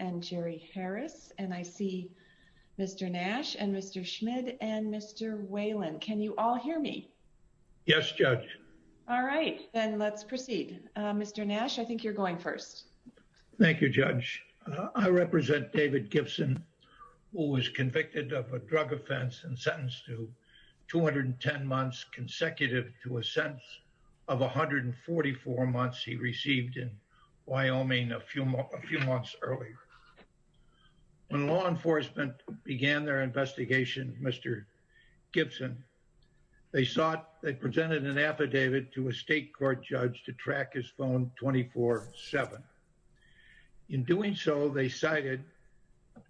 and Jerry Harris and I see Mr. Nash and Mr. Schmidt and Mr. Whalen. Can you all hear me? Yes, Judge. All right, then let's proceed. Mr. Nash, I think you're going first. Thank you, Judge. I represent David Gibson, who was convicted of a drug offense and sentenced to 210 months consecutive to a sentence of 144 months. He received in Wyoming a few months earlier. When law enforcement began their investigation, Mr. Gibson, they sought they presented an affidavit to a state court judge to track his phone 24-7. In doing so, they cited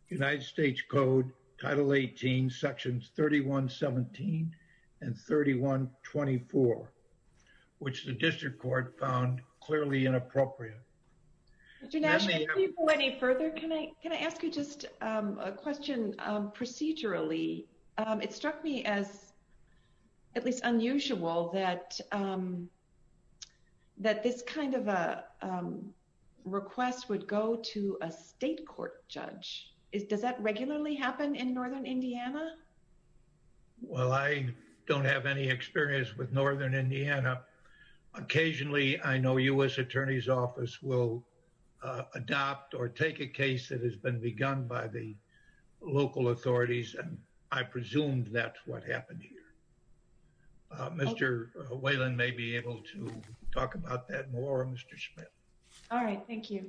United States Code Title 18, Sections 3117 and 3124, which the district court found clearly inappropriate. Mr. Nash, before you go any further, can I ask you just a question procedurally? It struck me as at least unusual that this kind of a request would go to a state court judge. Does that regularly happen in northern Indiana? Well, I don't have any experience with northern Indiana. Occasionally, I know U.S. Attorney's Office will adopt or take a case that has been begun by the local authorities. And I presumed that's what happened here. Mr. Whalen may be able to talk about that more, Mr. Schmidt. All right. Thank you.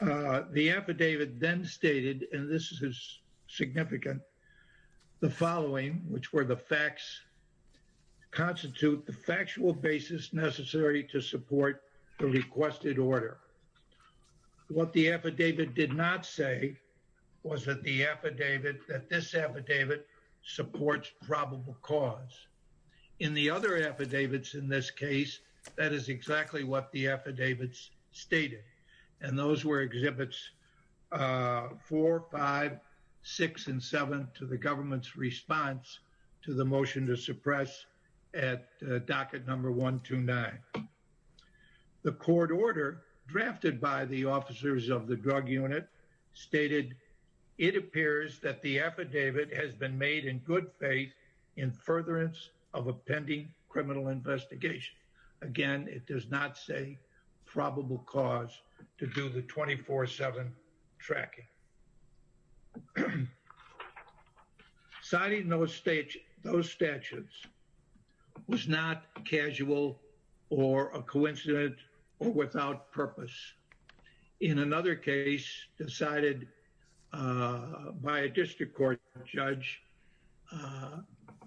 The affidavit then stated, and this is significant, the following, which were the facts constitute the factual basis necessary to support the requested order. What the affidavit did not say was that the affidavit, that this affidavit supports probable cause. In the other affidavits in this case, that is exactly what the affidavits stated. And those were exhibits four, five, six, and seven to the government's response to the motion to suppress at docket number 129. The court order drafted by the officers of the drug unit stated, it appears that the affidavit has been made in good faith in furtherance of a pending criminal investigation. Again, it does not say probable cause to do the 24-7 tracking. Signing those statutes was not casual or a coincidence or without purpose. In another case decided by a district court judge,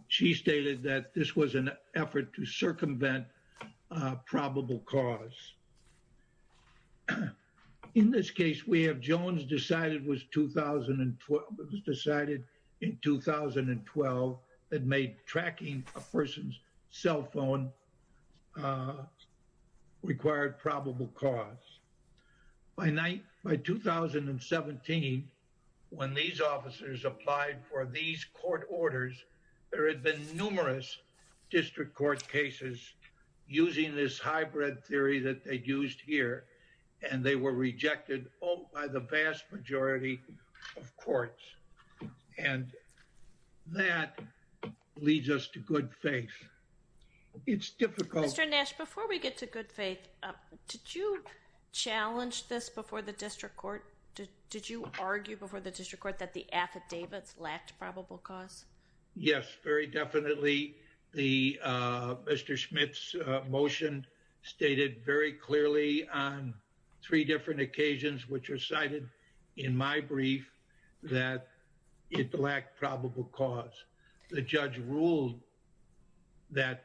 she stated that this was an effort to circumvent probable cause. In this case, we have Jones decided in 2012 that made tracking a person's cell phone required probable cause. By 2017, when these officers applied for these court orders, there had been numerous district court cases using this hybrid theory that they used here and they were rejected by the vast majority of courts. And that leads us to good faith. It's difficult. Mr. Nash, before we get to good faith, did you challenge this before the district court? Did you argue before the district court that the affidavits lacked probable cause? Yes, very definitely. Mr. Smith's motion stated very clearly on three different occasions which are cited in my brief that it lacked probable cause. The judge ruled that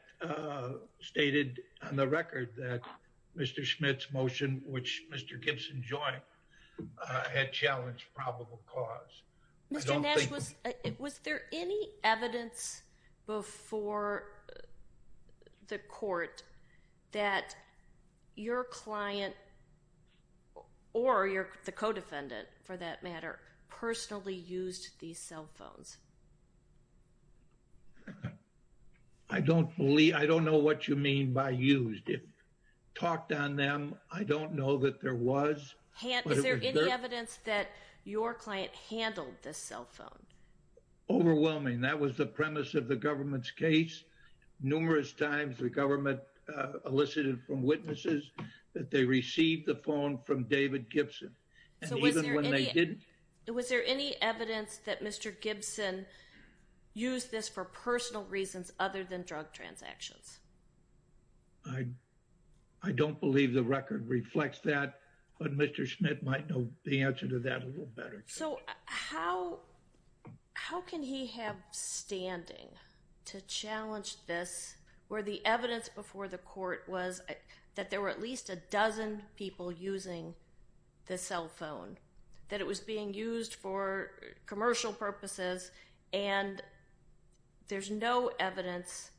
stated on the record that Mr. Smith's motion, which Mr. Gibson joined, had challenged probable cause. Mr. Nash, was there any evidence before the court that your client or the co-defendant, for that matter, personally used these cell phones? I don't know what you mean by used. If talked on them, I don't know that there was. Is there any evidence that your client handled this cell phone? Overwhelming. That was the premise of the government's case. Numerous times the government elicited from witnesses that they received the phone from David Gibson. And even when they didn't? Was there any evidence that Mr. Gibson used this for personal reasons other than drug transactions? I don't believe the record reflects that, but Mr. Smith might know the answer to that a little better. So how can he have standing to challenge this where the evidence before the court was that there were at least a dozen people using the cell phone? That it was being used for commercial purposes, and there's no evidence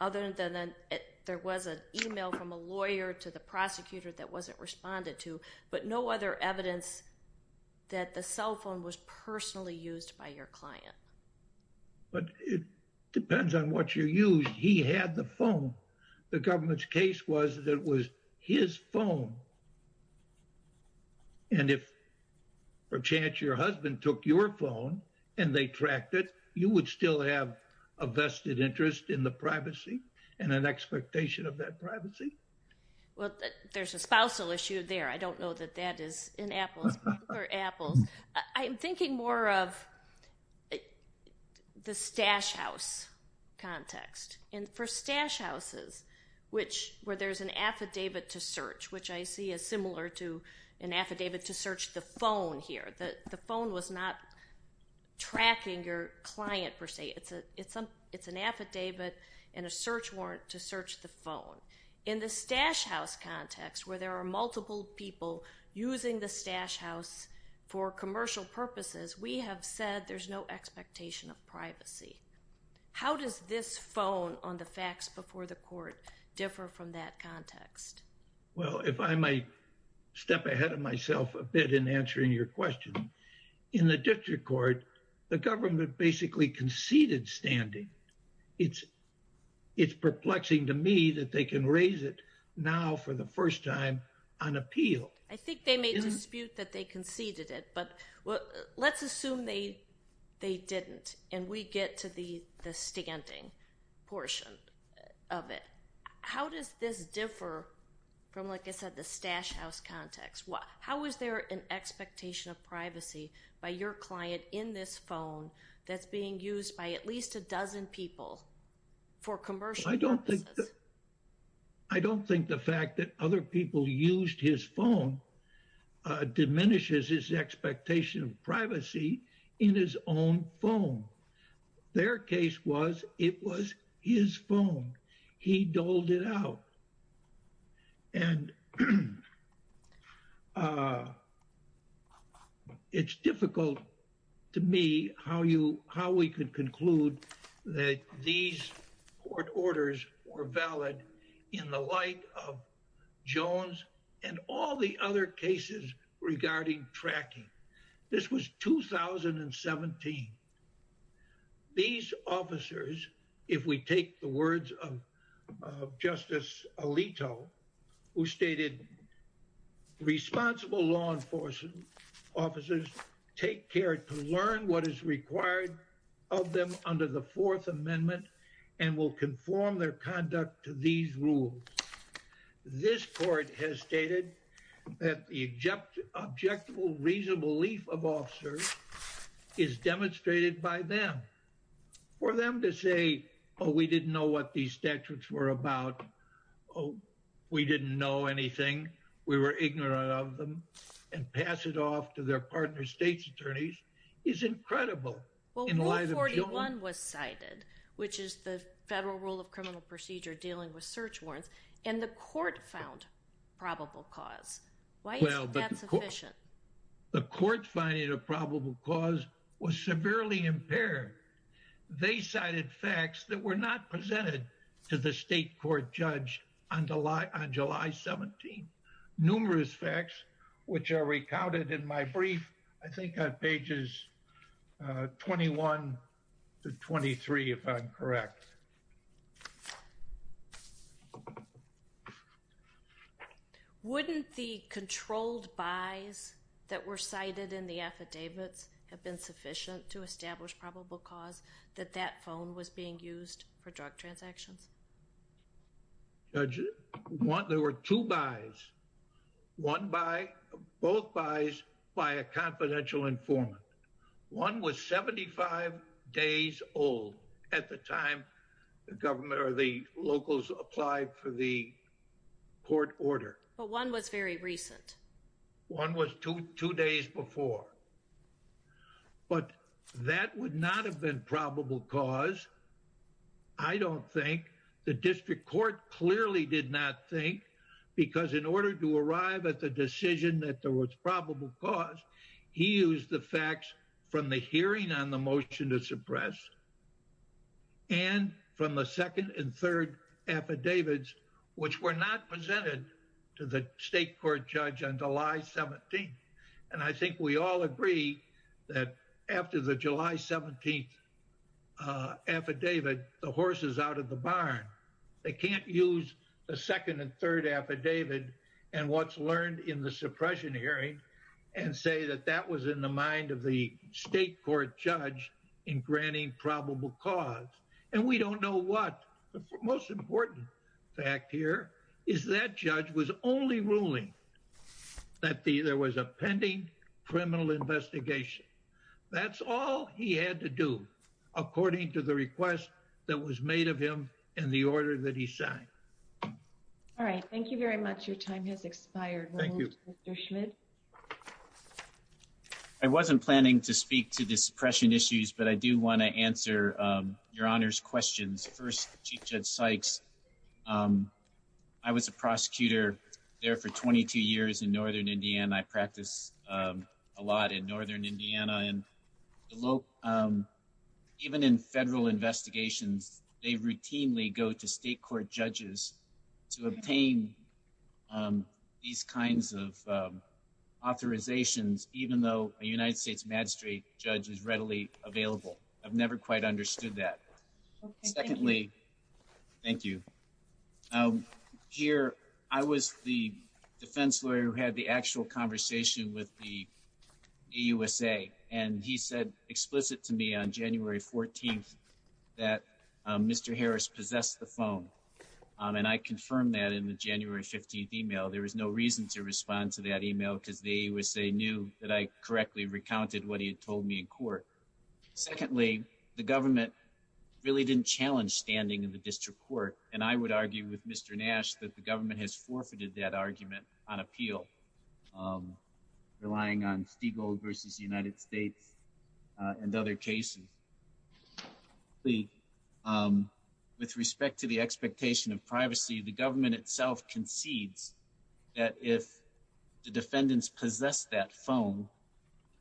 other than there was an email from a lawyer to the prosecutor that wasn't responded to. But no other evidence that the cell phone was personally used by your client. But it depends on what you used. He had the phone. The government's case was that it was his phone. And if, perchance, your husband took your phone and they tracked it, you would still have a vested interest in the privacy and an expectation of that privacy? Well, there's a spousal issue there. I don't know that that is in Apples. I'm thinking more of the stash house context. And for stash houses, where there's an affidavit to search, which I see is similar to an affidavit to search the phone here. The phone was not tracking your client, per se. It's an affidavit and a search warrant to search the phone. In the stash house context, where there are multiple people using the stash house for commercial purposes, we have said there's no expectation of privacy. How does this phone on the fax before the court differ from that context? Well, if I might step ahead of myself a bit in answering your question. In the district court, the government basically conceded standing. It's perplexing to me that they can raise it now for the first time on appeal. I think they may dispute that they conceded it. Let's assume they didn't and we get to the standing portion of it. How does this differ from, like I said, the stash house context? How is there an expectation of privacy by your client in this phone that's being used by at least a dozen people for commercial purposes? I don't think the fact that other people used his phone diminishes his expectation of privacy in his own phone. Their case was it was his phone. He doled it out. And it's difficult to me how you how we could conclude that these court orders were valid in the light of Jones and all the other cases regarding tracking. This was 2017. These officers, if we take the words of Justice Alito, who stated responsible law enforcement officers take care to learn what is required of them under the Fourth Amendment and will conform their conduct to these rules. This court has stated that the object object will reason belief of officers is demonstrated by them for them to say, oh, we didn't know what these statutes were about. Oh, we didn't know anything. We were ignorant of them and pass it off to their partner. It's incredible. 41 was cited, which is the federal rule of criminal procedure dealing with search warrants. And the court found probable cause. Why is that sufficient? The court finding a probable cause was severely impaired. They cited facts that were not presented to the state court judge on July 17. Numerous facts, which are recounted in my brief, I think on pages 21 to 23, if I'm correct. Wouldn't the controlled buys that were cited in the affidavits have been sufficient to establish probable cause that that phone was being used for drug transactions? Judge, there were two buys, one buy, both buys by a confidential informant. One was 75 days old at the time the government or the locals applied for the court order. But one was very recent. One was two days before. But that would not have been probable cause. I don't think the district court clearly did not think because in order to arrive at the decision that there was probable cause, he used the facts from the hearing on the motion to suppress. And from the second and third affidavits, which were not presented to the state court judge on July 17th. And I think we all agree that after the July 17th affidavit, the horse is out of the barn. They can't use the second and third affidavit and what's learned in the suppression hearing and say that that was in the mind of the state court judge in granting probable cause. And we don't know what the most important fact here is that judge was only ruling that there was a pending criminal investigation. That's all he had to do, according to the request that was made of him in the order that he signed. All right. Thank you very much. Your time has expired. Thank you. I wasn't planning to speak to the suppression issues, but I do want to answer your honors questions. First, Judge Sykes. I was a prosecutor there for 22 years in northern Indiana. I practice a lot in northern Indiana. And even in federal investigations, they routinely go to state court judges to obtain these kinds of authorizations, even though a United States magistrate judge is readily available. I've never quite understood that. Secondly. Thank you. Here, I was the defense lawyer who had the actual conversation with the USA, and he said explicit to me on January 14th that Mr. Harris possessed the phone. And I confirmed that in the January 15th email. There was no reason to respond to that email because they would say knew that I correctly recounted what he had told me in court. Secondly, the government really didn't challenge standing in the district court. And I would argue with Mr. Nash that the government has forfeited that argument on appeal, relying on Stigl versus the United States and other cases. The with respect to the expectation of privacy, the government itself concedes that if the defendants possess that phone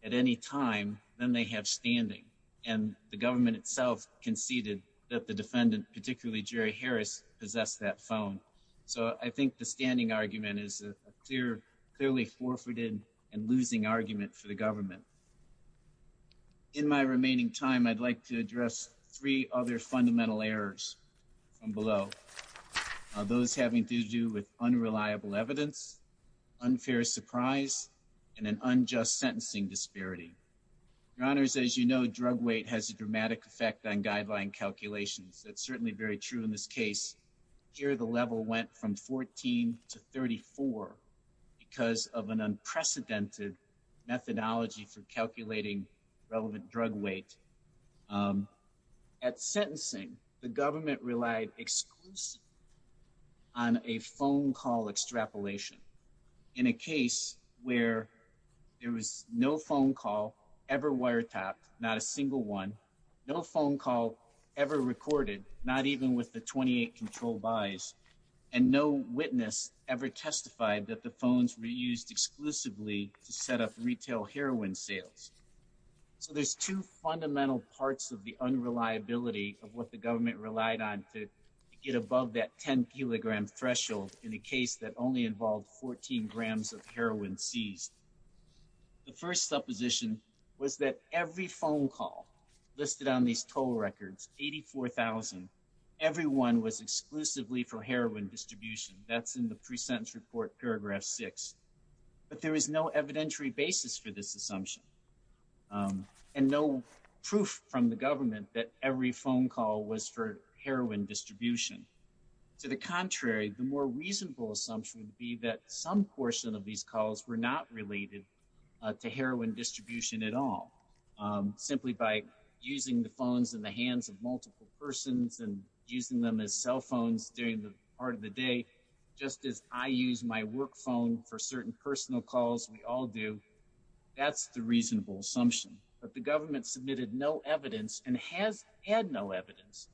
at any time, then they have standing. And the government itself conceded that the defendant, particularly Jerry Harris, possess that phone. So I think the standing argument is a clear, clearly forfeited and losing argument for the government. In my remaining time, I'd like to address three other fundamental errors from below. Those having to do with unreliable evidence, unfair surprise, and an unjust sentencing disparity. Your honors, as you know, drug weight has a dramatic effect on guideline calculations. That's certainly very true in this case here. The level went from 14 to 34 because of an unprecedented methodology for calculating relevant drug weight at sentencing. The government relied exclusively on a phone call extrapolation. In a case where there was no phone call ever wiretapped, not a single one, no phone call ever recorded, not even with the 28 control buys. And no witness ever testified that the phones were used exclusively to set up retail heroin sales. So there's two fundamental parts of the unreliability of what the government relied on to get above that 10 kilogram threshold in a case that only involved 14 grams of heroin seized. The first supposition was that every phone call listed on these toll records, 84,000, everyone was exclusively for heroin distribution. That's in the pre-sentence report, paragraph six. But there is no evidentiary basis for this assumption. And no proof from the government that every phone call was for heroin distribution. To the contrary, the more reasonable assumption would be that some portion of these calls were not related to heroin distribution at all. Simply by using the phones in the hands of multiple persons and using them as cell phones during the part of the day, just as I use my work phone for certain personal calls we all do. That's the reasonable assumption. But the government submitted no evidence and has had no evidence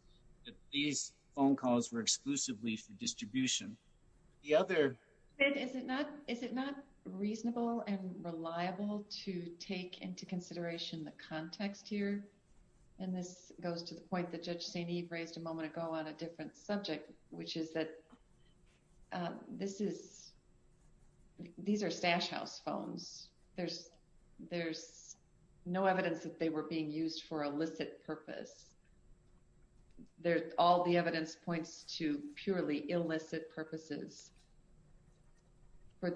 that these phone calls were exclusively for distribution. Is it not reasonable and reliable to take into consideration the context here? And this goes to the point that Judge St. Eve raised a moment ago on a different subject, which is that these are stash house phones. There's no evidence that they were being used for illicit purpose. All the evidence points to purely illicit purposes. And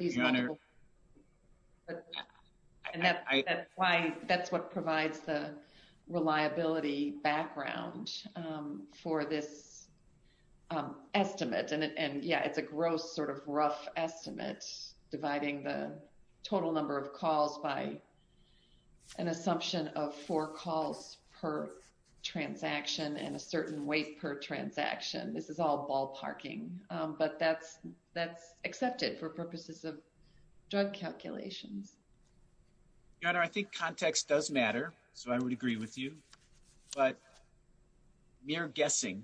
that's why that's what provides the reliability background for this estimate. And yeah, it's a gross sort of rough estimate, dividing the total number of calls by an assumption of four calls per transaction and a certain weight per transaction. This is all ballparking. But that's accepted for purposes of drug calculations. Your Honor, I think context does matter. So I would agree with you. But mere guessing,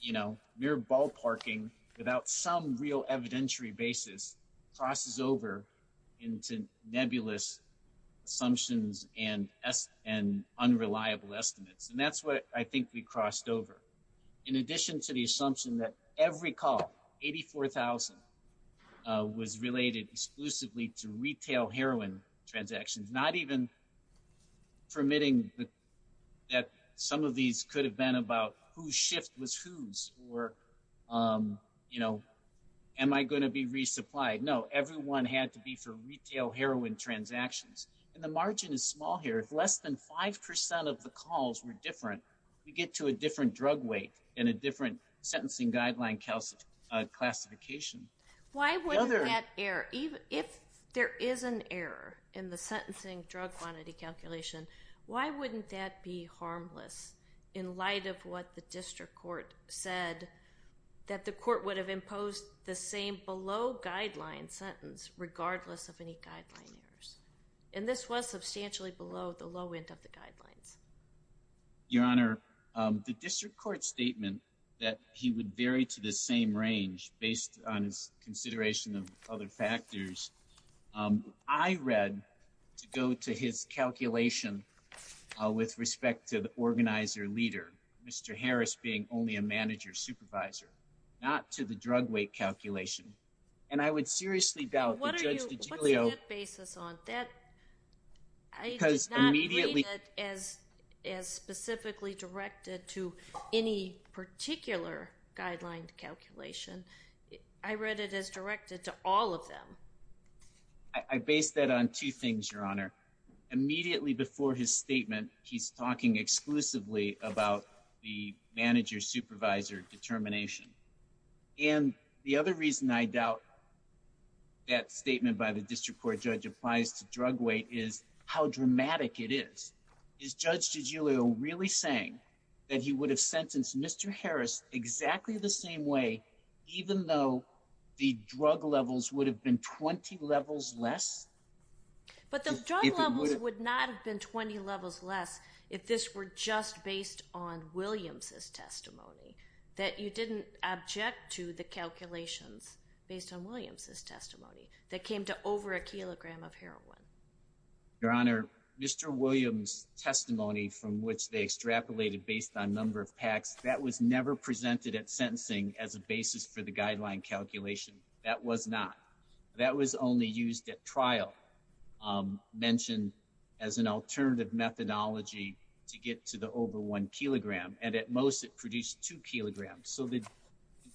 you know, mere ballparking without some real evidentiary basis crosses over into nebulous assumptions and unreliable estimates. And that's what I think we crossed over. In addition to the assumption that every call, 84,000, was related exclusively to retail heroin transactions, not even permitting that some of these could have been about whose shift was whose or, you know, am I going to be resupplied? No, everyone had to be for retail heroin transactions. And the margin is small here. If less than 5% of the calls were different, you get to a different drug weight and a different sentencing guideline classification. Why wouldn't that err? If there is an error in the sentencing drug quantity calculation, why wouldn't that be harmless in light of what the district court said that the court would have imposed the same below guideline sentence regardless of any guideline errors? And this was substantially below the low end of the guidelines. Your Honor, the district court statement that he would vary to the same range based on his consideration of other factors, I read to go to his calculation with respect to the organizer leader, Mr. Harris being only a manager supervisor, not to the drug weight calculation. And I would seriously doubt that Judge DiGiulio— What are you—what do you base this on? Because immediately— I did not read it as specifically directed to any particular guideline calculation. I read it as directed to all of them. I based that on two things, Your Honor. Immediately before his statement, he's talking exclusively about the manager supervisor determination. And the other reason I doubt that statement by the district court judge applies to drug weight is how dramatic it is. Is Judge DiGiulio really saying that he would have sentenced Mr. Harris exactly the same way even though the drug levels would have been 20 levels less? But the drug levels would not have been 20 levels less if this were just based on Williams' testimony, that you didn't object to the calculations based on Williams' testimony that came to over a kilogram of heroin. Your Honor, Mr. Williams' testimony from which they extrapolated based on number of packs, that was never presented at sentencing as a basis for the guideline calculation. That was not. It was presented at trial, mentioned as an alternative methodology to get to the over one kilogram. And at most, it produced two kilograms. So the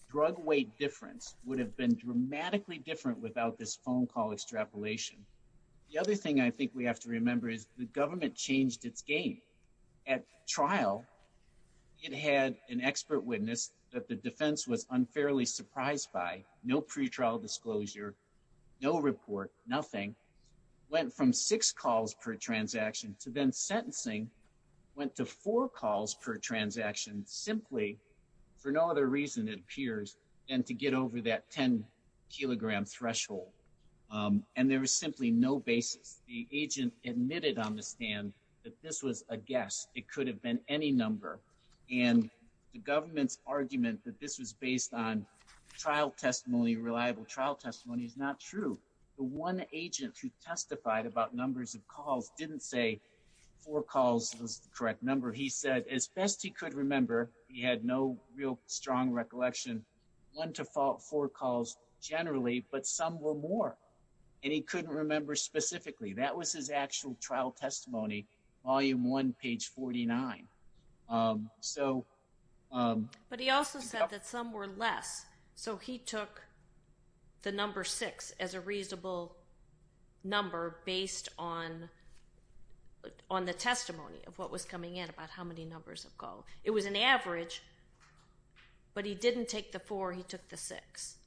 drug weight difference would have been dramatically different without this phone call extrapolation. The other thing I think we have to remember is the government changed its game. At trial, it had an expert witness that the defense was unfairly surprised by. No pretrial disclosure, no report, nothing. Went from six calls per transaction to then sentencing, went to four calls per transaction simply for no other reason, it appears, than to get over that 10 kilogram threshold. And there was simply no basis. The agent admitted on the stand that this was a guess. It could have been any number. And the government's argument that this was based on trial testimony, reliable trial testimony, is not true. The one agent who testified about numbers of calls didn't say four calls was the correct number. He said as best he could remember, he had no real strong recollection, went to four calls generally, but some were more. And he couldn't remember specifically. That was his actual trial testimony, volume one, page 49. So... But he also said that some were less. So he took the number six as a reasonable number based on the testimony of what was coming in about how many numbers of calls. It was an average, but he didn't take the four. He took the six.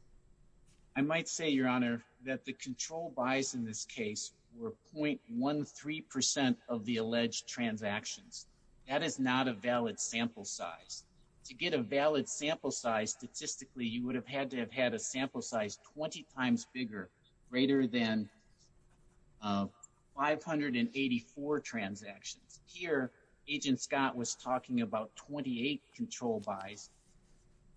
I might say, Your Honor, that the control buys in this case were .13% of the alleged transactions. That is not a valid sample size. To get a valid sample size, statistically, you would have had to have had a sample size 20 times bigger, greater than 584 transactions. Here, Agent Scott was talking about 28 control buys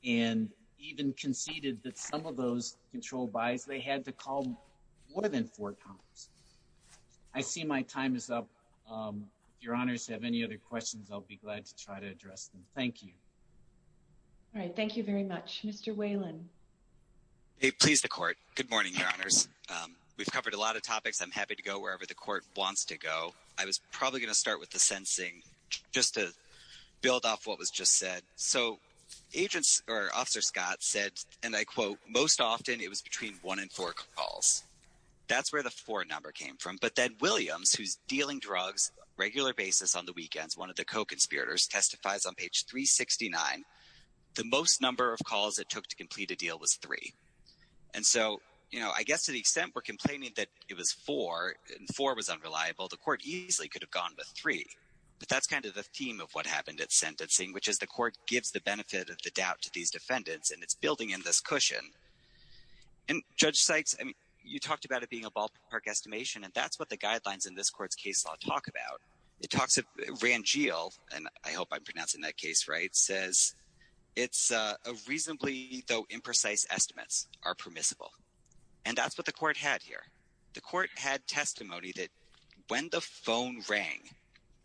and even conceded that some of those control buys, they had to call more than four times. I see my time is up. If Your Honors have any other questions, I'll be glad to try to address them. Thank you. All right. Thank you very much. Mr. Whalen. Please, the Court. Good morning, Your Honors. We've covered a lot of topics. I'm happy to go wherever the Court wants to go. I was probably going to start with the sensing just to build off what was just said. So, Agent or Officer Scott said, and I quote, most often it was between one and four calls. That's where the four number came from. But then Williams, who's dealing drugs regular basis on the weekends, one of the co-conspirators, testifies on page 369, the most number of calls it took to complete a deal was three. And so, you know, I guess to the extent we're complaining that it was four and four was unreliable, the Court easily could have gone with three. But that's kind of the theme of what happened at sentencing, which is the Court gives the benefit of the doubt to these defendants, and it's building in this cushion. And Judge Sykes, you talked about it being a ballpark estimation, and that's what the guidelines in this Court's case law talk about. It talks of Rangel, and I hope I'm pronouncing that case right, says it's a reasonably though imprecise estimates are permissible. And that's what the Court had here. The Court had testimony that when the phone rang,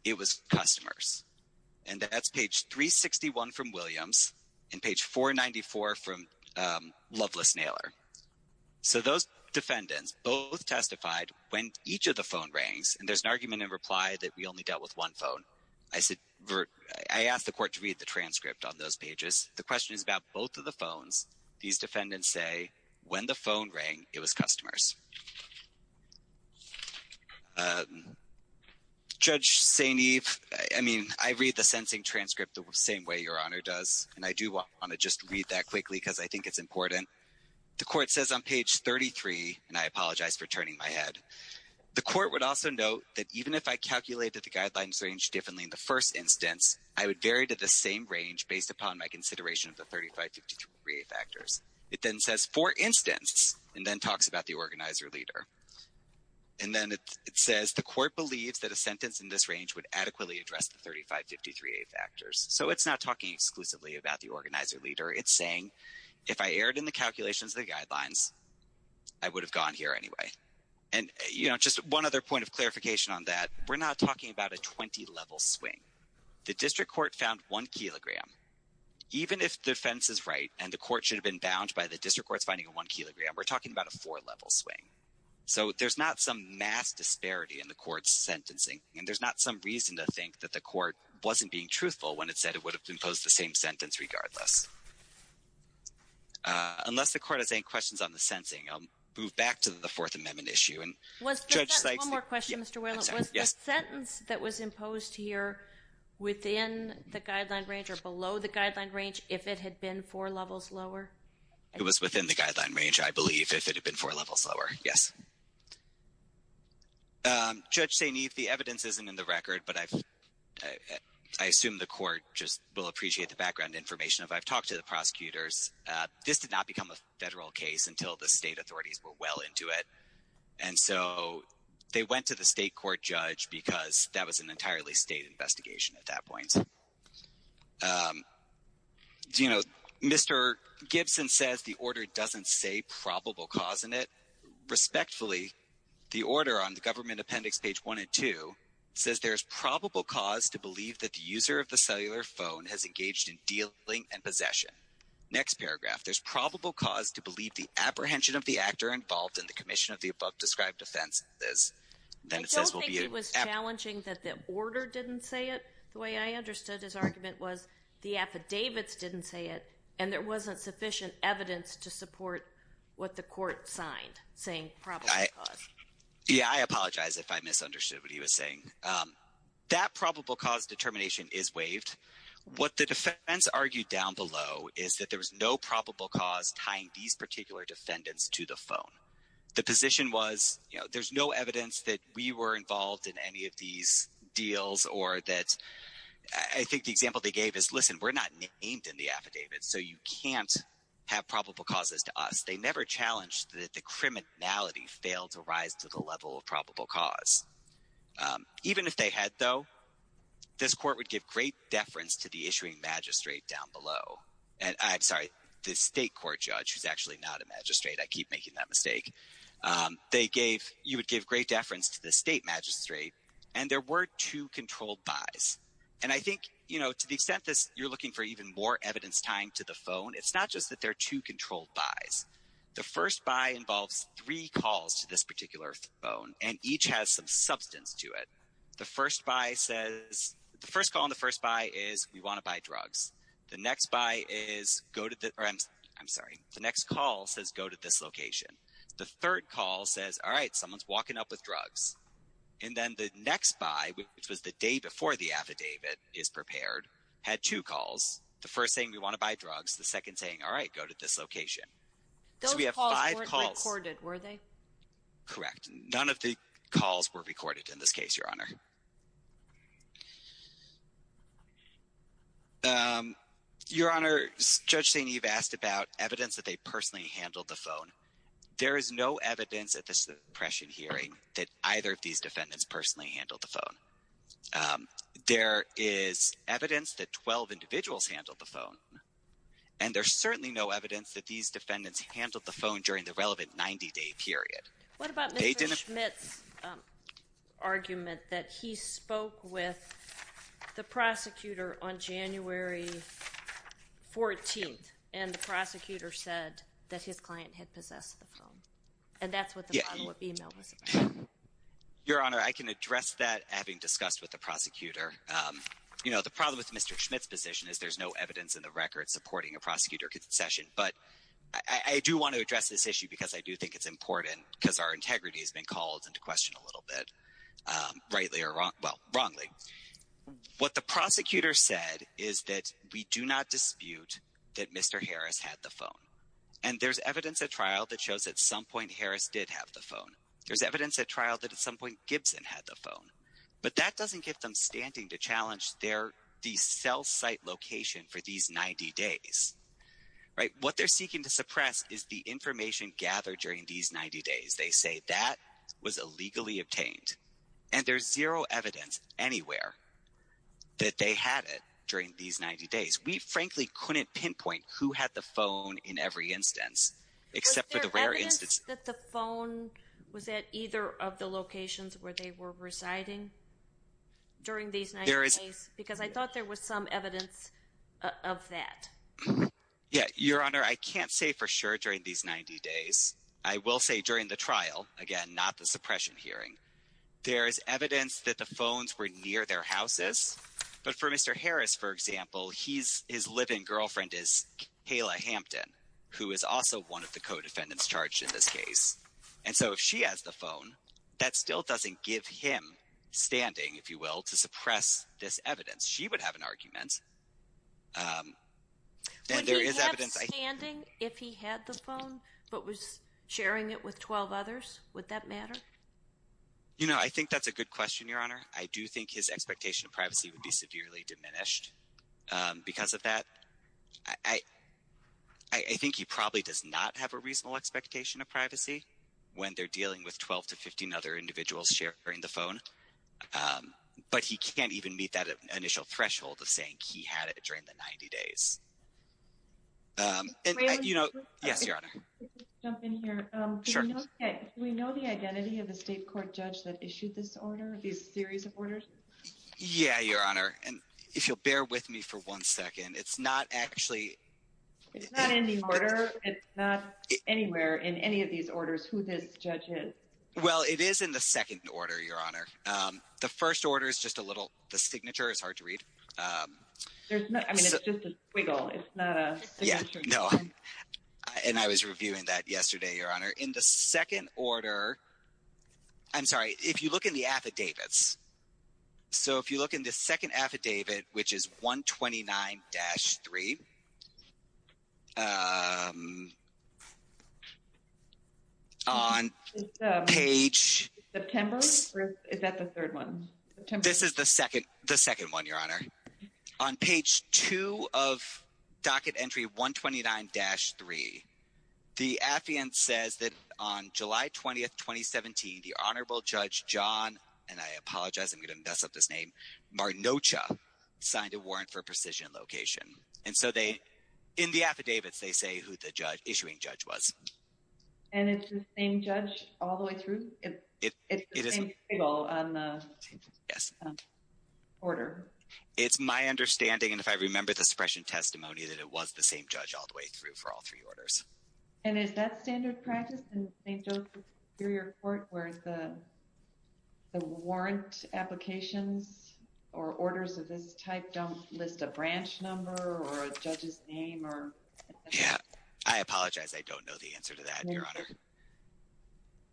it was customers. And that's page 361 from Williams and page 494 from Loveless Naylor. So those defendants both testified when each of the phone rings, and there's an argument in reply that we only dealt with one phone. I asked the Court to read the transcript on those pages. The question is about both of the phones. These defendants say when the phone rang, it was customers. Judge St. Eve, I mean, I read the sentencing transcript the same way Your Honor does, and I do want to just read that quickly because I think it's important. The Court says on page 33, and I apologize for turning my head. The Court would also note that even if I calculated the guidelines range differently in the first instance, I would vary to the same range based upon my consideration of the 3553A factors. It then says, for instance, and then talks about the organizer leader. And then it says the Court believes that a sentence in this range would adequately address the 3553A factors. So it's not talking exclusively about the organizer leader. It's saying if I erred in the calculations of the guidelines, I would have gone here anyway. And, you know, just one other point of clarification on that, we're not talking about a 20-level swing. The District Court found one kilogram. Even if the defense is right and the Court should have been bound by the District Court's finding of one kilogram, we're talking about a four-level swing. So there's not some mass disparity in the Court's sentencing. And there's not some reason to think that the Court wasn't being truthful when it said it would have imposed the same sentence regardless. Unless the Court has any questions on the sentencing, I'll move back to the Fourth Amendment issue. And Judge Sykes — One more question, Mr. Weyland. I'm sorry, yes. Was the sentence that was imposed here within the guideline range or below the guideline range if it had been four levels lower? It was within the guideline range, I believe, if it had been four levels lower, yes. Judge St. Eve, the evidence isn't in the record, but I assume the Court just will appreciate the background information. I've talked to the prosecutors. This did not become a federal case until the state authorities were well into it. And so they went to the state court judge because that was an entirely state investigation at that point. Do you know, Mr. Gibson says the order doesn't say probable cause in it. Respectfully, the order on the Government Appendix page 1 and 2 says there's probable cause to believe that the user of the cellular phone has engaged in dealing and possession. Next paragraph. There's probable cause to believe the apprehension of the actor involved in the commission of the above-described offense is. I don't think it was challenging that the order didn't say it. The way I understood his argument was the affidavits didn't say it, and there wasn't sufficient evidence to support what the Court signed, saying probable cause. Yeah, I apologize if I misunderstood what he was saying. That probable cause determination is waived. What the defense argued down below is that there was no probable cause tying these particular defendants to the phone. The position was, you know, there's no evidence that we were involved in any of these deals or that – I think the example they gave is, listen, we're not named in the affidavit, so you can't have probable causes to us. They never challenged that the criminality failed to rise to the level of probable cause. Even if they had, though, this Court would give great deference to the issuing magistrate down below. I'm sorry, the state court judge, who's actually not a magistrate. I keep making that mistake. They gave – you would give great deference to the state magistrate, and there were two controlled buys. And I think, you know, to the extent that you're looking for even more evidence tying to the phone, it's not just that there are two controlled buys. The first buy involves three calls to this particular phone, and each has some substance to it. The first buy says – the first call on the first buy is, we want to buy drugs. The next buy is, go to the – I'm sorry. The next call says, go to this location. The third call says, all right, someone's walking up with drugs. And then the next buy, which was the day before the affidavit is prepared, had two calls. The first saying, we want to buy drugs. The second saying, all right, go to this location. So we have five calls. Those calls weren't recorded, were they? Correct. None of the calls were recorded in this case, Your Honor. Your Honor, Judge St. Eve asked about evidence that they personally handled the phone. There is no evidence at this suppression hearing that either of these defendants personally handled the phone. There is evidence that 12 individuals handled the phone. And there's certainly no evidence that these defendants handled the phone during the relevant 90-day period. What about Mr. Schmidt's argument that he spoke with the prosecutor on January 14th, and the prosecutor said that his client had possessed the phone? And that's what the follow-up email was about. Your Honor, I can address that, having discussed with the prosecutor. You know, the problem with Mr. Schmidt's position is there's no evidence in the record supporting a prosecutor's concession. But I do want to address this issue because I do think it's important because our integrity has been called into question a little bit, rightly or wrongly. What the prosecutor said is that we do not dispute that Mr. Harris had the phone. And there's evidence at trial that shows at some point Harris did have the phone. There's evidence at trial that at some point Gibson had the phone. But that doesn't get them standing to challenge the cell site location for these 90 days. Right? What they're seeking to suppress is the information gathered during these 90 days. They say that was illegally obtained. And there's zero evidence anywhere that they had it during these 90 days. We frankly couldn't pinpoint who had the phone in every instance except for the rare instance. Was it that the phone was at either of the locations where they were residing during these 90 days? Because I thought there was some evidence of that. Yeah. Your Honor, I can't say for sure during these 90 days. I will say during the trial. Again, not the suppression hearing. There is evidence that the phones were near their houses. But for Mr. Harris, for example, his live-in girlfriend is Kayla Hampton, who is also one of the co-defendants charged in this case. And so if she has the phone, that still doesn't give him standing, if you will, to suppress this evidence. She would have an argument. Would he have standing if he had the phone but was sharing it with 12 others? Would that matter? You know, I think that's a good question, Your Honor. I do think his expectation of privacy would be severely diminished because of that. I think he probably does not have a reasonable expectation of privacy when they're dealing with 12 to 15 other individuals sharing the phone. But he can't even meet that initial threshold of saying he had it during the 90 days. Yes, Your Honor. Can I jump in here? Sure. Do we know the identity of the state court judge that issued this order, this series of orders? Yeah, Your Honor. And if you'll bear with me for one second, it's not actually – It's not in the order. It's not anywhere in any of these orders who this judge is. Well, it is in the second order, Your Honor. The first order is just a little – the signature is hard to read. I mean, it's just a squiggle. It's not a signature. No. And I was reviewing that yesterday, Your Honor. In the second order – I'm sorry. If you look in the affidavits, so if you look in the second affidavit, which is 129-3, on page – September? Is that the third one? This is the second one, Your Honor. On page 2 of docket entry 129-3, the affiant says that on July 20th, 2017, the Honorable Judge John – and I apologize, I'm going to mess up his name – Martinocha signed a warrant for precision location. And so they – in the affidavits, they say who the issuing judge was. And it's the same judge all the way through? It is. Yes. Order. It's my understanding, and if I remember the suppression testimony, that it was the same judge all the way through for all three orders. And is that standard practice in St. Joseph Superior Court where the warrant applications or orders of this type don't list a branch number or a judge's name? Yeah. I apologize. I don't know the answer to that, Your Honor.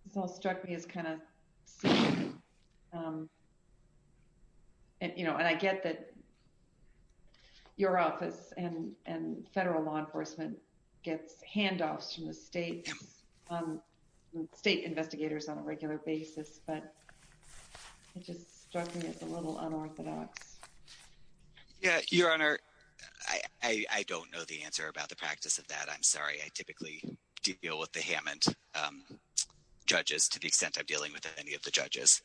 This all struck me as kind of silly. And, you know, I get that your office and federal law enforcement gets handoffs from the state investigators on a regular basis, but it just struck me as a little unorthodox. Yeah, Your Honor, I don't know the answer about the practice of that. I'm sorry. I typically deal with the Hammond judges to the extent I'm dealing with any of the judges.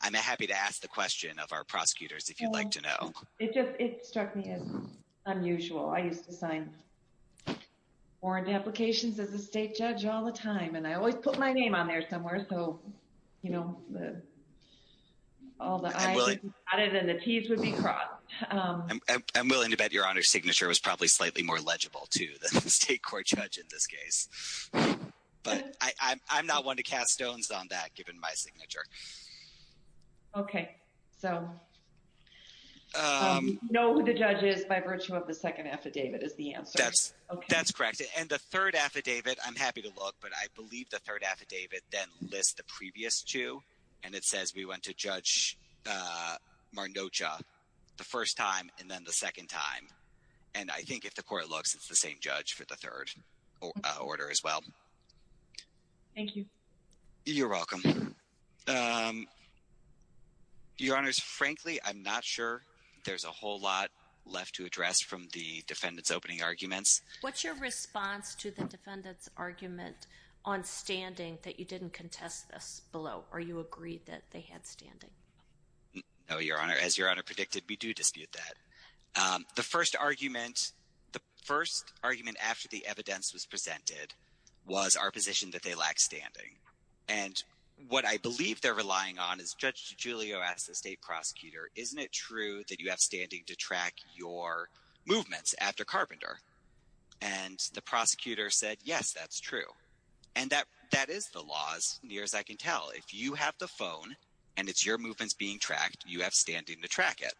I'm happy to ask the question of our prosecutors if you'd like to know. It just – it struck me as unusual. I used to sign warrant applications as a state judge all the time, and I always put my name on there somewhere so, you know, all the I's would be dotted and the T's would be crossed. I'm willing to bet Your Honor's signature was probably slightly more legible too than the state court judge in this case. But I'm not one to cast stones on that given my signature. Okay. So know who the judge is by virtue of the second affidavit is the answer. That's correct. And the third affidavit, I'm happy to look, but I believe the third affidavit then lists the previous two, and it says we went to Judge Marnocha the first time and then the second time. And I think if the court looks, it's the same judge for the third order as well. Thank you. You're welcome. Your Honors, frankly, I'm not sure there's a whole lot left to address from the defendant's opening arguments. What's your response to the defendant's argument on standing that you didn't contest this below? Or you agreed that they had standing? No, Your Honor. As Your Honor predicted, we do dispute that. The first argument after the evidence was presented was our position that they lack standing. And what I believe they're relying on is Judge DiGiulio asked the state prosecutor, isn't it true that you have standing to track your movements after Carpenter? And the prosecutor said, yes, that's true. And that is the law as near as I can tell. If you have the phone and it's your movements being tracked, you have standing to track it.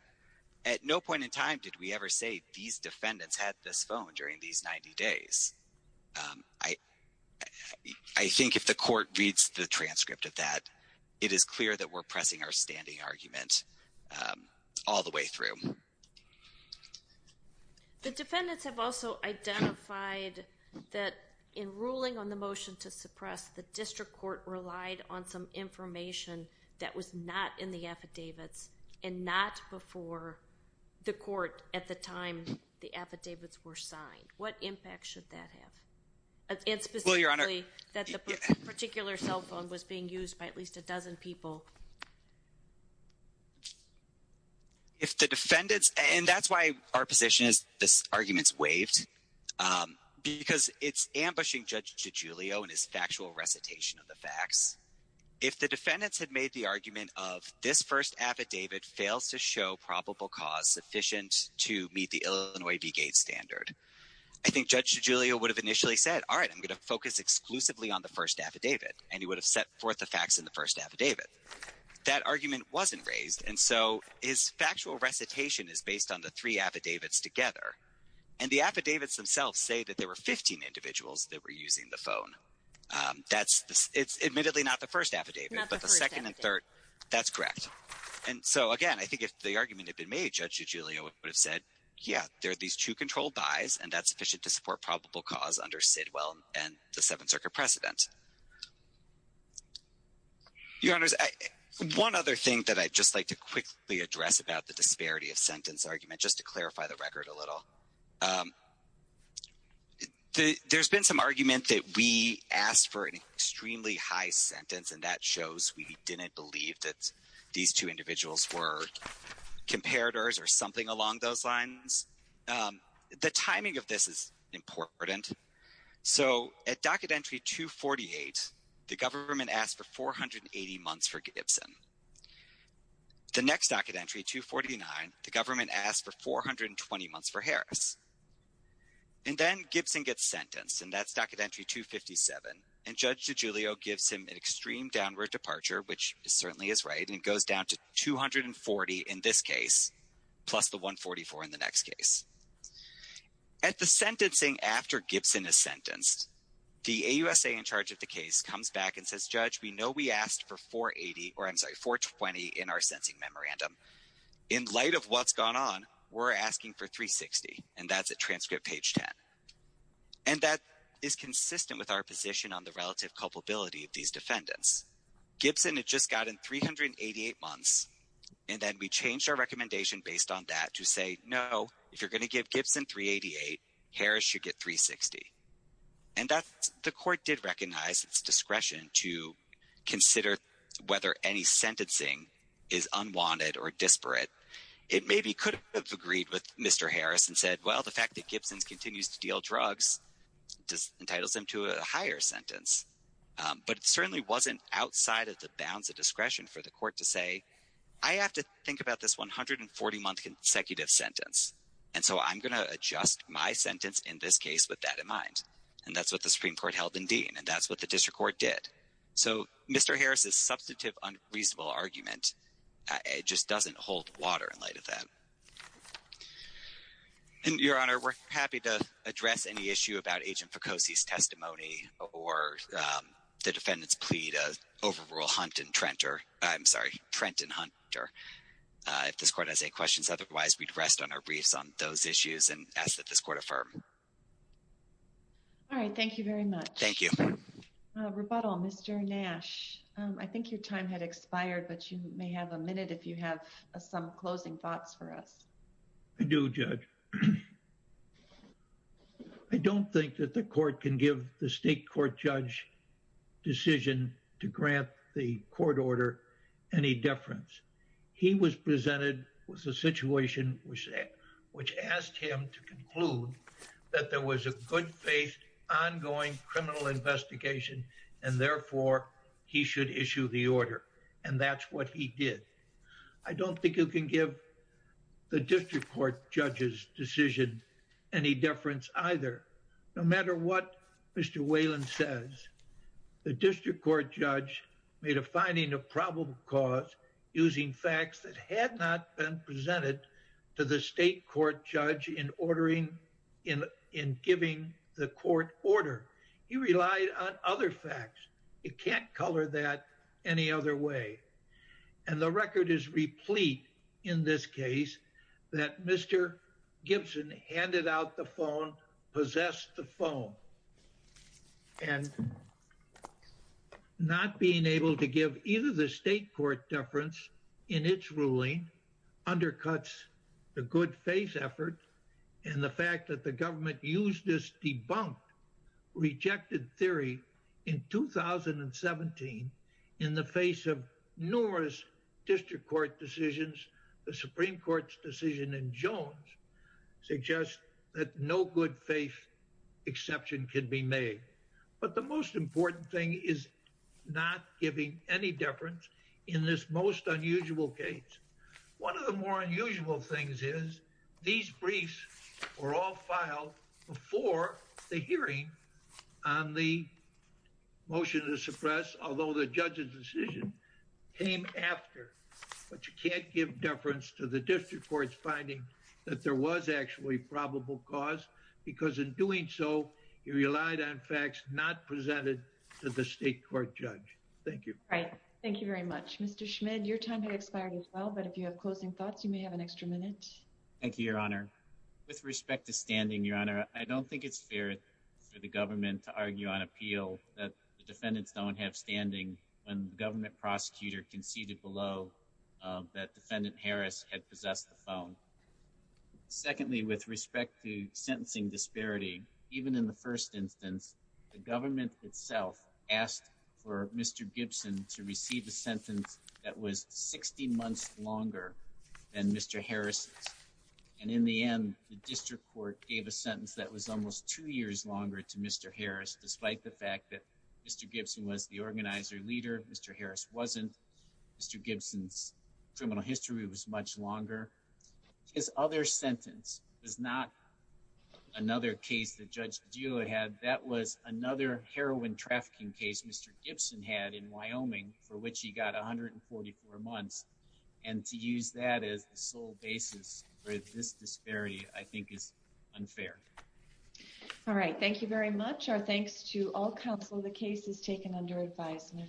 At no point in time did we ever say these defendants had this phone during these 90 days. I think if the court reads the transcript of that, it is clear that we're pressing our standing argument all the way through. The defendants have also identified that in ruling on the motion to suppress, the district court relied on some information that was not in the affidavits and not before the court at the time the affidavits were signed. What impact should that have? And specifically that the particular cell phone was being used by at least a dozen people. If the defendants, and that's why our position is this argument's waived, because it's ambushing Judge DiGiulio and his factual recitation of the facts. If the defendants had made the argument of this first affidavit fails to show probable cause sufficient to meet the Illinois V-Gate standard, I think Judge DiGiulio would have initially said, all right, I'm going to focus exclusively on the first affidavit. And he would have set forth the facts in the first affidavit. That argument wasn't raised. And so his factual recitation is based on the three affidavits together. And the affidavits themselves say that there were 15 individuals that were using the phone. It's admittedly not the first affidavit, but the second and third, that's correct. And so, again, I think if the argument had been made, Judge DiGiulio would have said, yeah, there are these two controlled buys and that's sufficient to support probable cause under Sidwell and the Seventh Circuit precedent. Your Honors, one other thing that I'd just like to quickly address about the disparity of sentence argument, just to clarify the record a little. There's been some argument that we asked for an extremely high sentence, and that shows we didn't believe that these two individuals were comparators or something along those lines. The timing of this is important. So at docket entry 248, the government asked for 480 months for Gibson. The next docket entry, 249, the government asked for 420 months for Harris. And then Gibson gets sentenced, and that's docket entry 257. And Judge DiGiulio gives him an extreme downward departure, which certainly is right, and it goes down to 240 in this case, plus the 144 in the next case. At the sentencing after Gibson is sentenced, the AUSA in charge of the case comes back and says, Judge, we know we asked for 480, or I'm sorry, 420 in our sentencing memorandum. In light of what's gone on, we're asking for 360, and that's at transcript page 10. And that is consistent with our position on the relative culpability of these defendants. Gibson had just gotten 388 months, and then we changed our recommendation based on that to say, no, if you're going to give Gibson 388, Harris should get 360. And the court did recognize its discretion to consider whether any sentencing is unwanted or disparate. It maybe could have agreed with Mr. Harris and said, well, the fact that Gibson continues to deal drugs entitles him to a higher sentence. But it certainly wasn't outside of the bounds of discretion for the court to say, I have to think about this 140-month consecutive sentence, and so I'm going to adjust my sentence in this case with that in mind. And that's what the Supreme Court held in Dean, and that's what the district court did. So Mr. Harris's substantive unreasonable argument just doesn't hold water in light of that. And, Your Honor, we're happy to address any issue about Agent Ficosi's testimony or the defendant's plea to overrule Hunt and Trenter. I'm sorry, Trent and Hunter. If this court has any questions otherwise, we'd rest on our briefs on those issues and ask that this court affirm. All right. Thank you very much. Thank you. Rebuttal, Mr. Nash, I think your time had expired, but you may have a minute if you have some closing thoughts for us. I do, Judge. I don't think that the court can give the state court judge decision to grant the court order any deference. He was presented with a situation which asked him to conclude that there was a good faith ongoing criminal investigation, and therefore, he should issue the order. And that's what he did. I don't think you can give the district court judge's decision any deference either. No matter what Mr. Whalen says, the district court judge made a finding of probable cause using facts that had not been presented to the state court judge in ordering in giving the court order. He relied on other facts. You can't color that any other way. And the record is replete in this case that Mr. Gibson handed out the phone, possessed the phone. And not being able to give either the state court deference in its ruling undercuts the good faith effort and the fact that the government used this debunked, rejected theory in 2017 in the face of numerous district court decisions. The Supreme Court's decision in Jones suggests that no good faith exception can be made. But the most important thing is not giving any deference in this most unusual case. One of the more unusual things is these briefs were all filed before the hearing on the motion to suppress, although the judge's decision came after. But you can't give deference to the district court's finding that there was actually probable cause because in doing so, he relied on facts not presented to the state court judge. Thank you. Right. Thank you very much, Mr. Schmidt. Your time has expired as well. But if you have closing thoughts, you may have an extra minute. Thank you, Your Honor. With respect to standing, Your Honor, I don't think it's fair for the government to argue on appeal that the defendants don't have standing when the government prosecutor conceded below that defendant Harris had possessed the phone. Secondly, with respect to sentencing disparity, even in the first instance, the government itself asked for Mr. Gibson to receive a sentence that was 60 months longer than Mr. Harris. And in the end, the district court gave a sentence that was almost two years longer to Mr. Harris. Despite the fact that Mr. Gibson was the organizer leader, Mr. Harris wasn't. Mr. Gibson's criminal history was much longer. His other sentence was not another case that Judge Padilla had. That was another heroin trafficking case Mr. Gibson had in Wyoming for which he got 144 months. And to use that as the sole basis for this disparity, I think, is unfair. All right. Thank you very much. Our thanks to all counsel. The case is taken under advisement.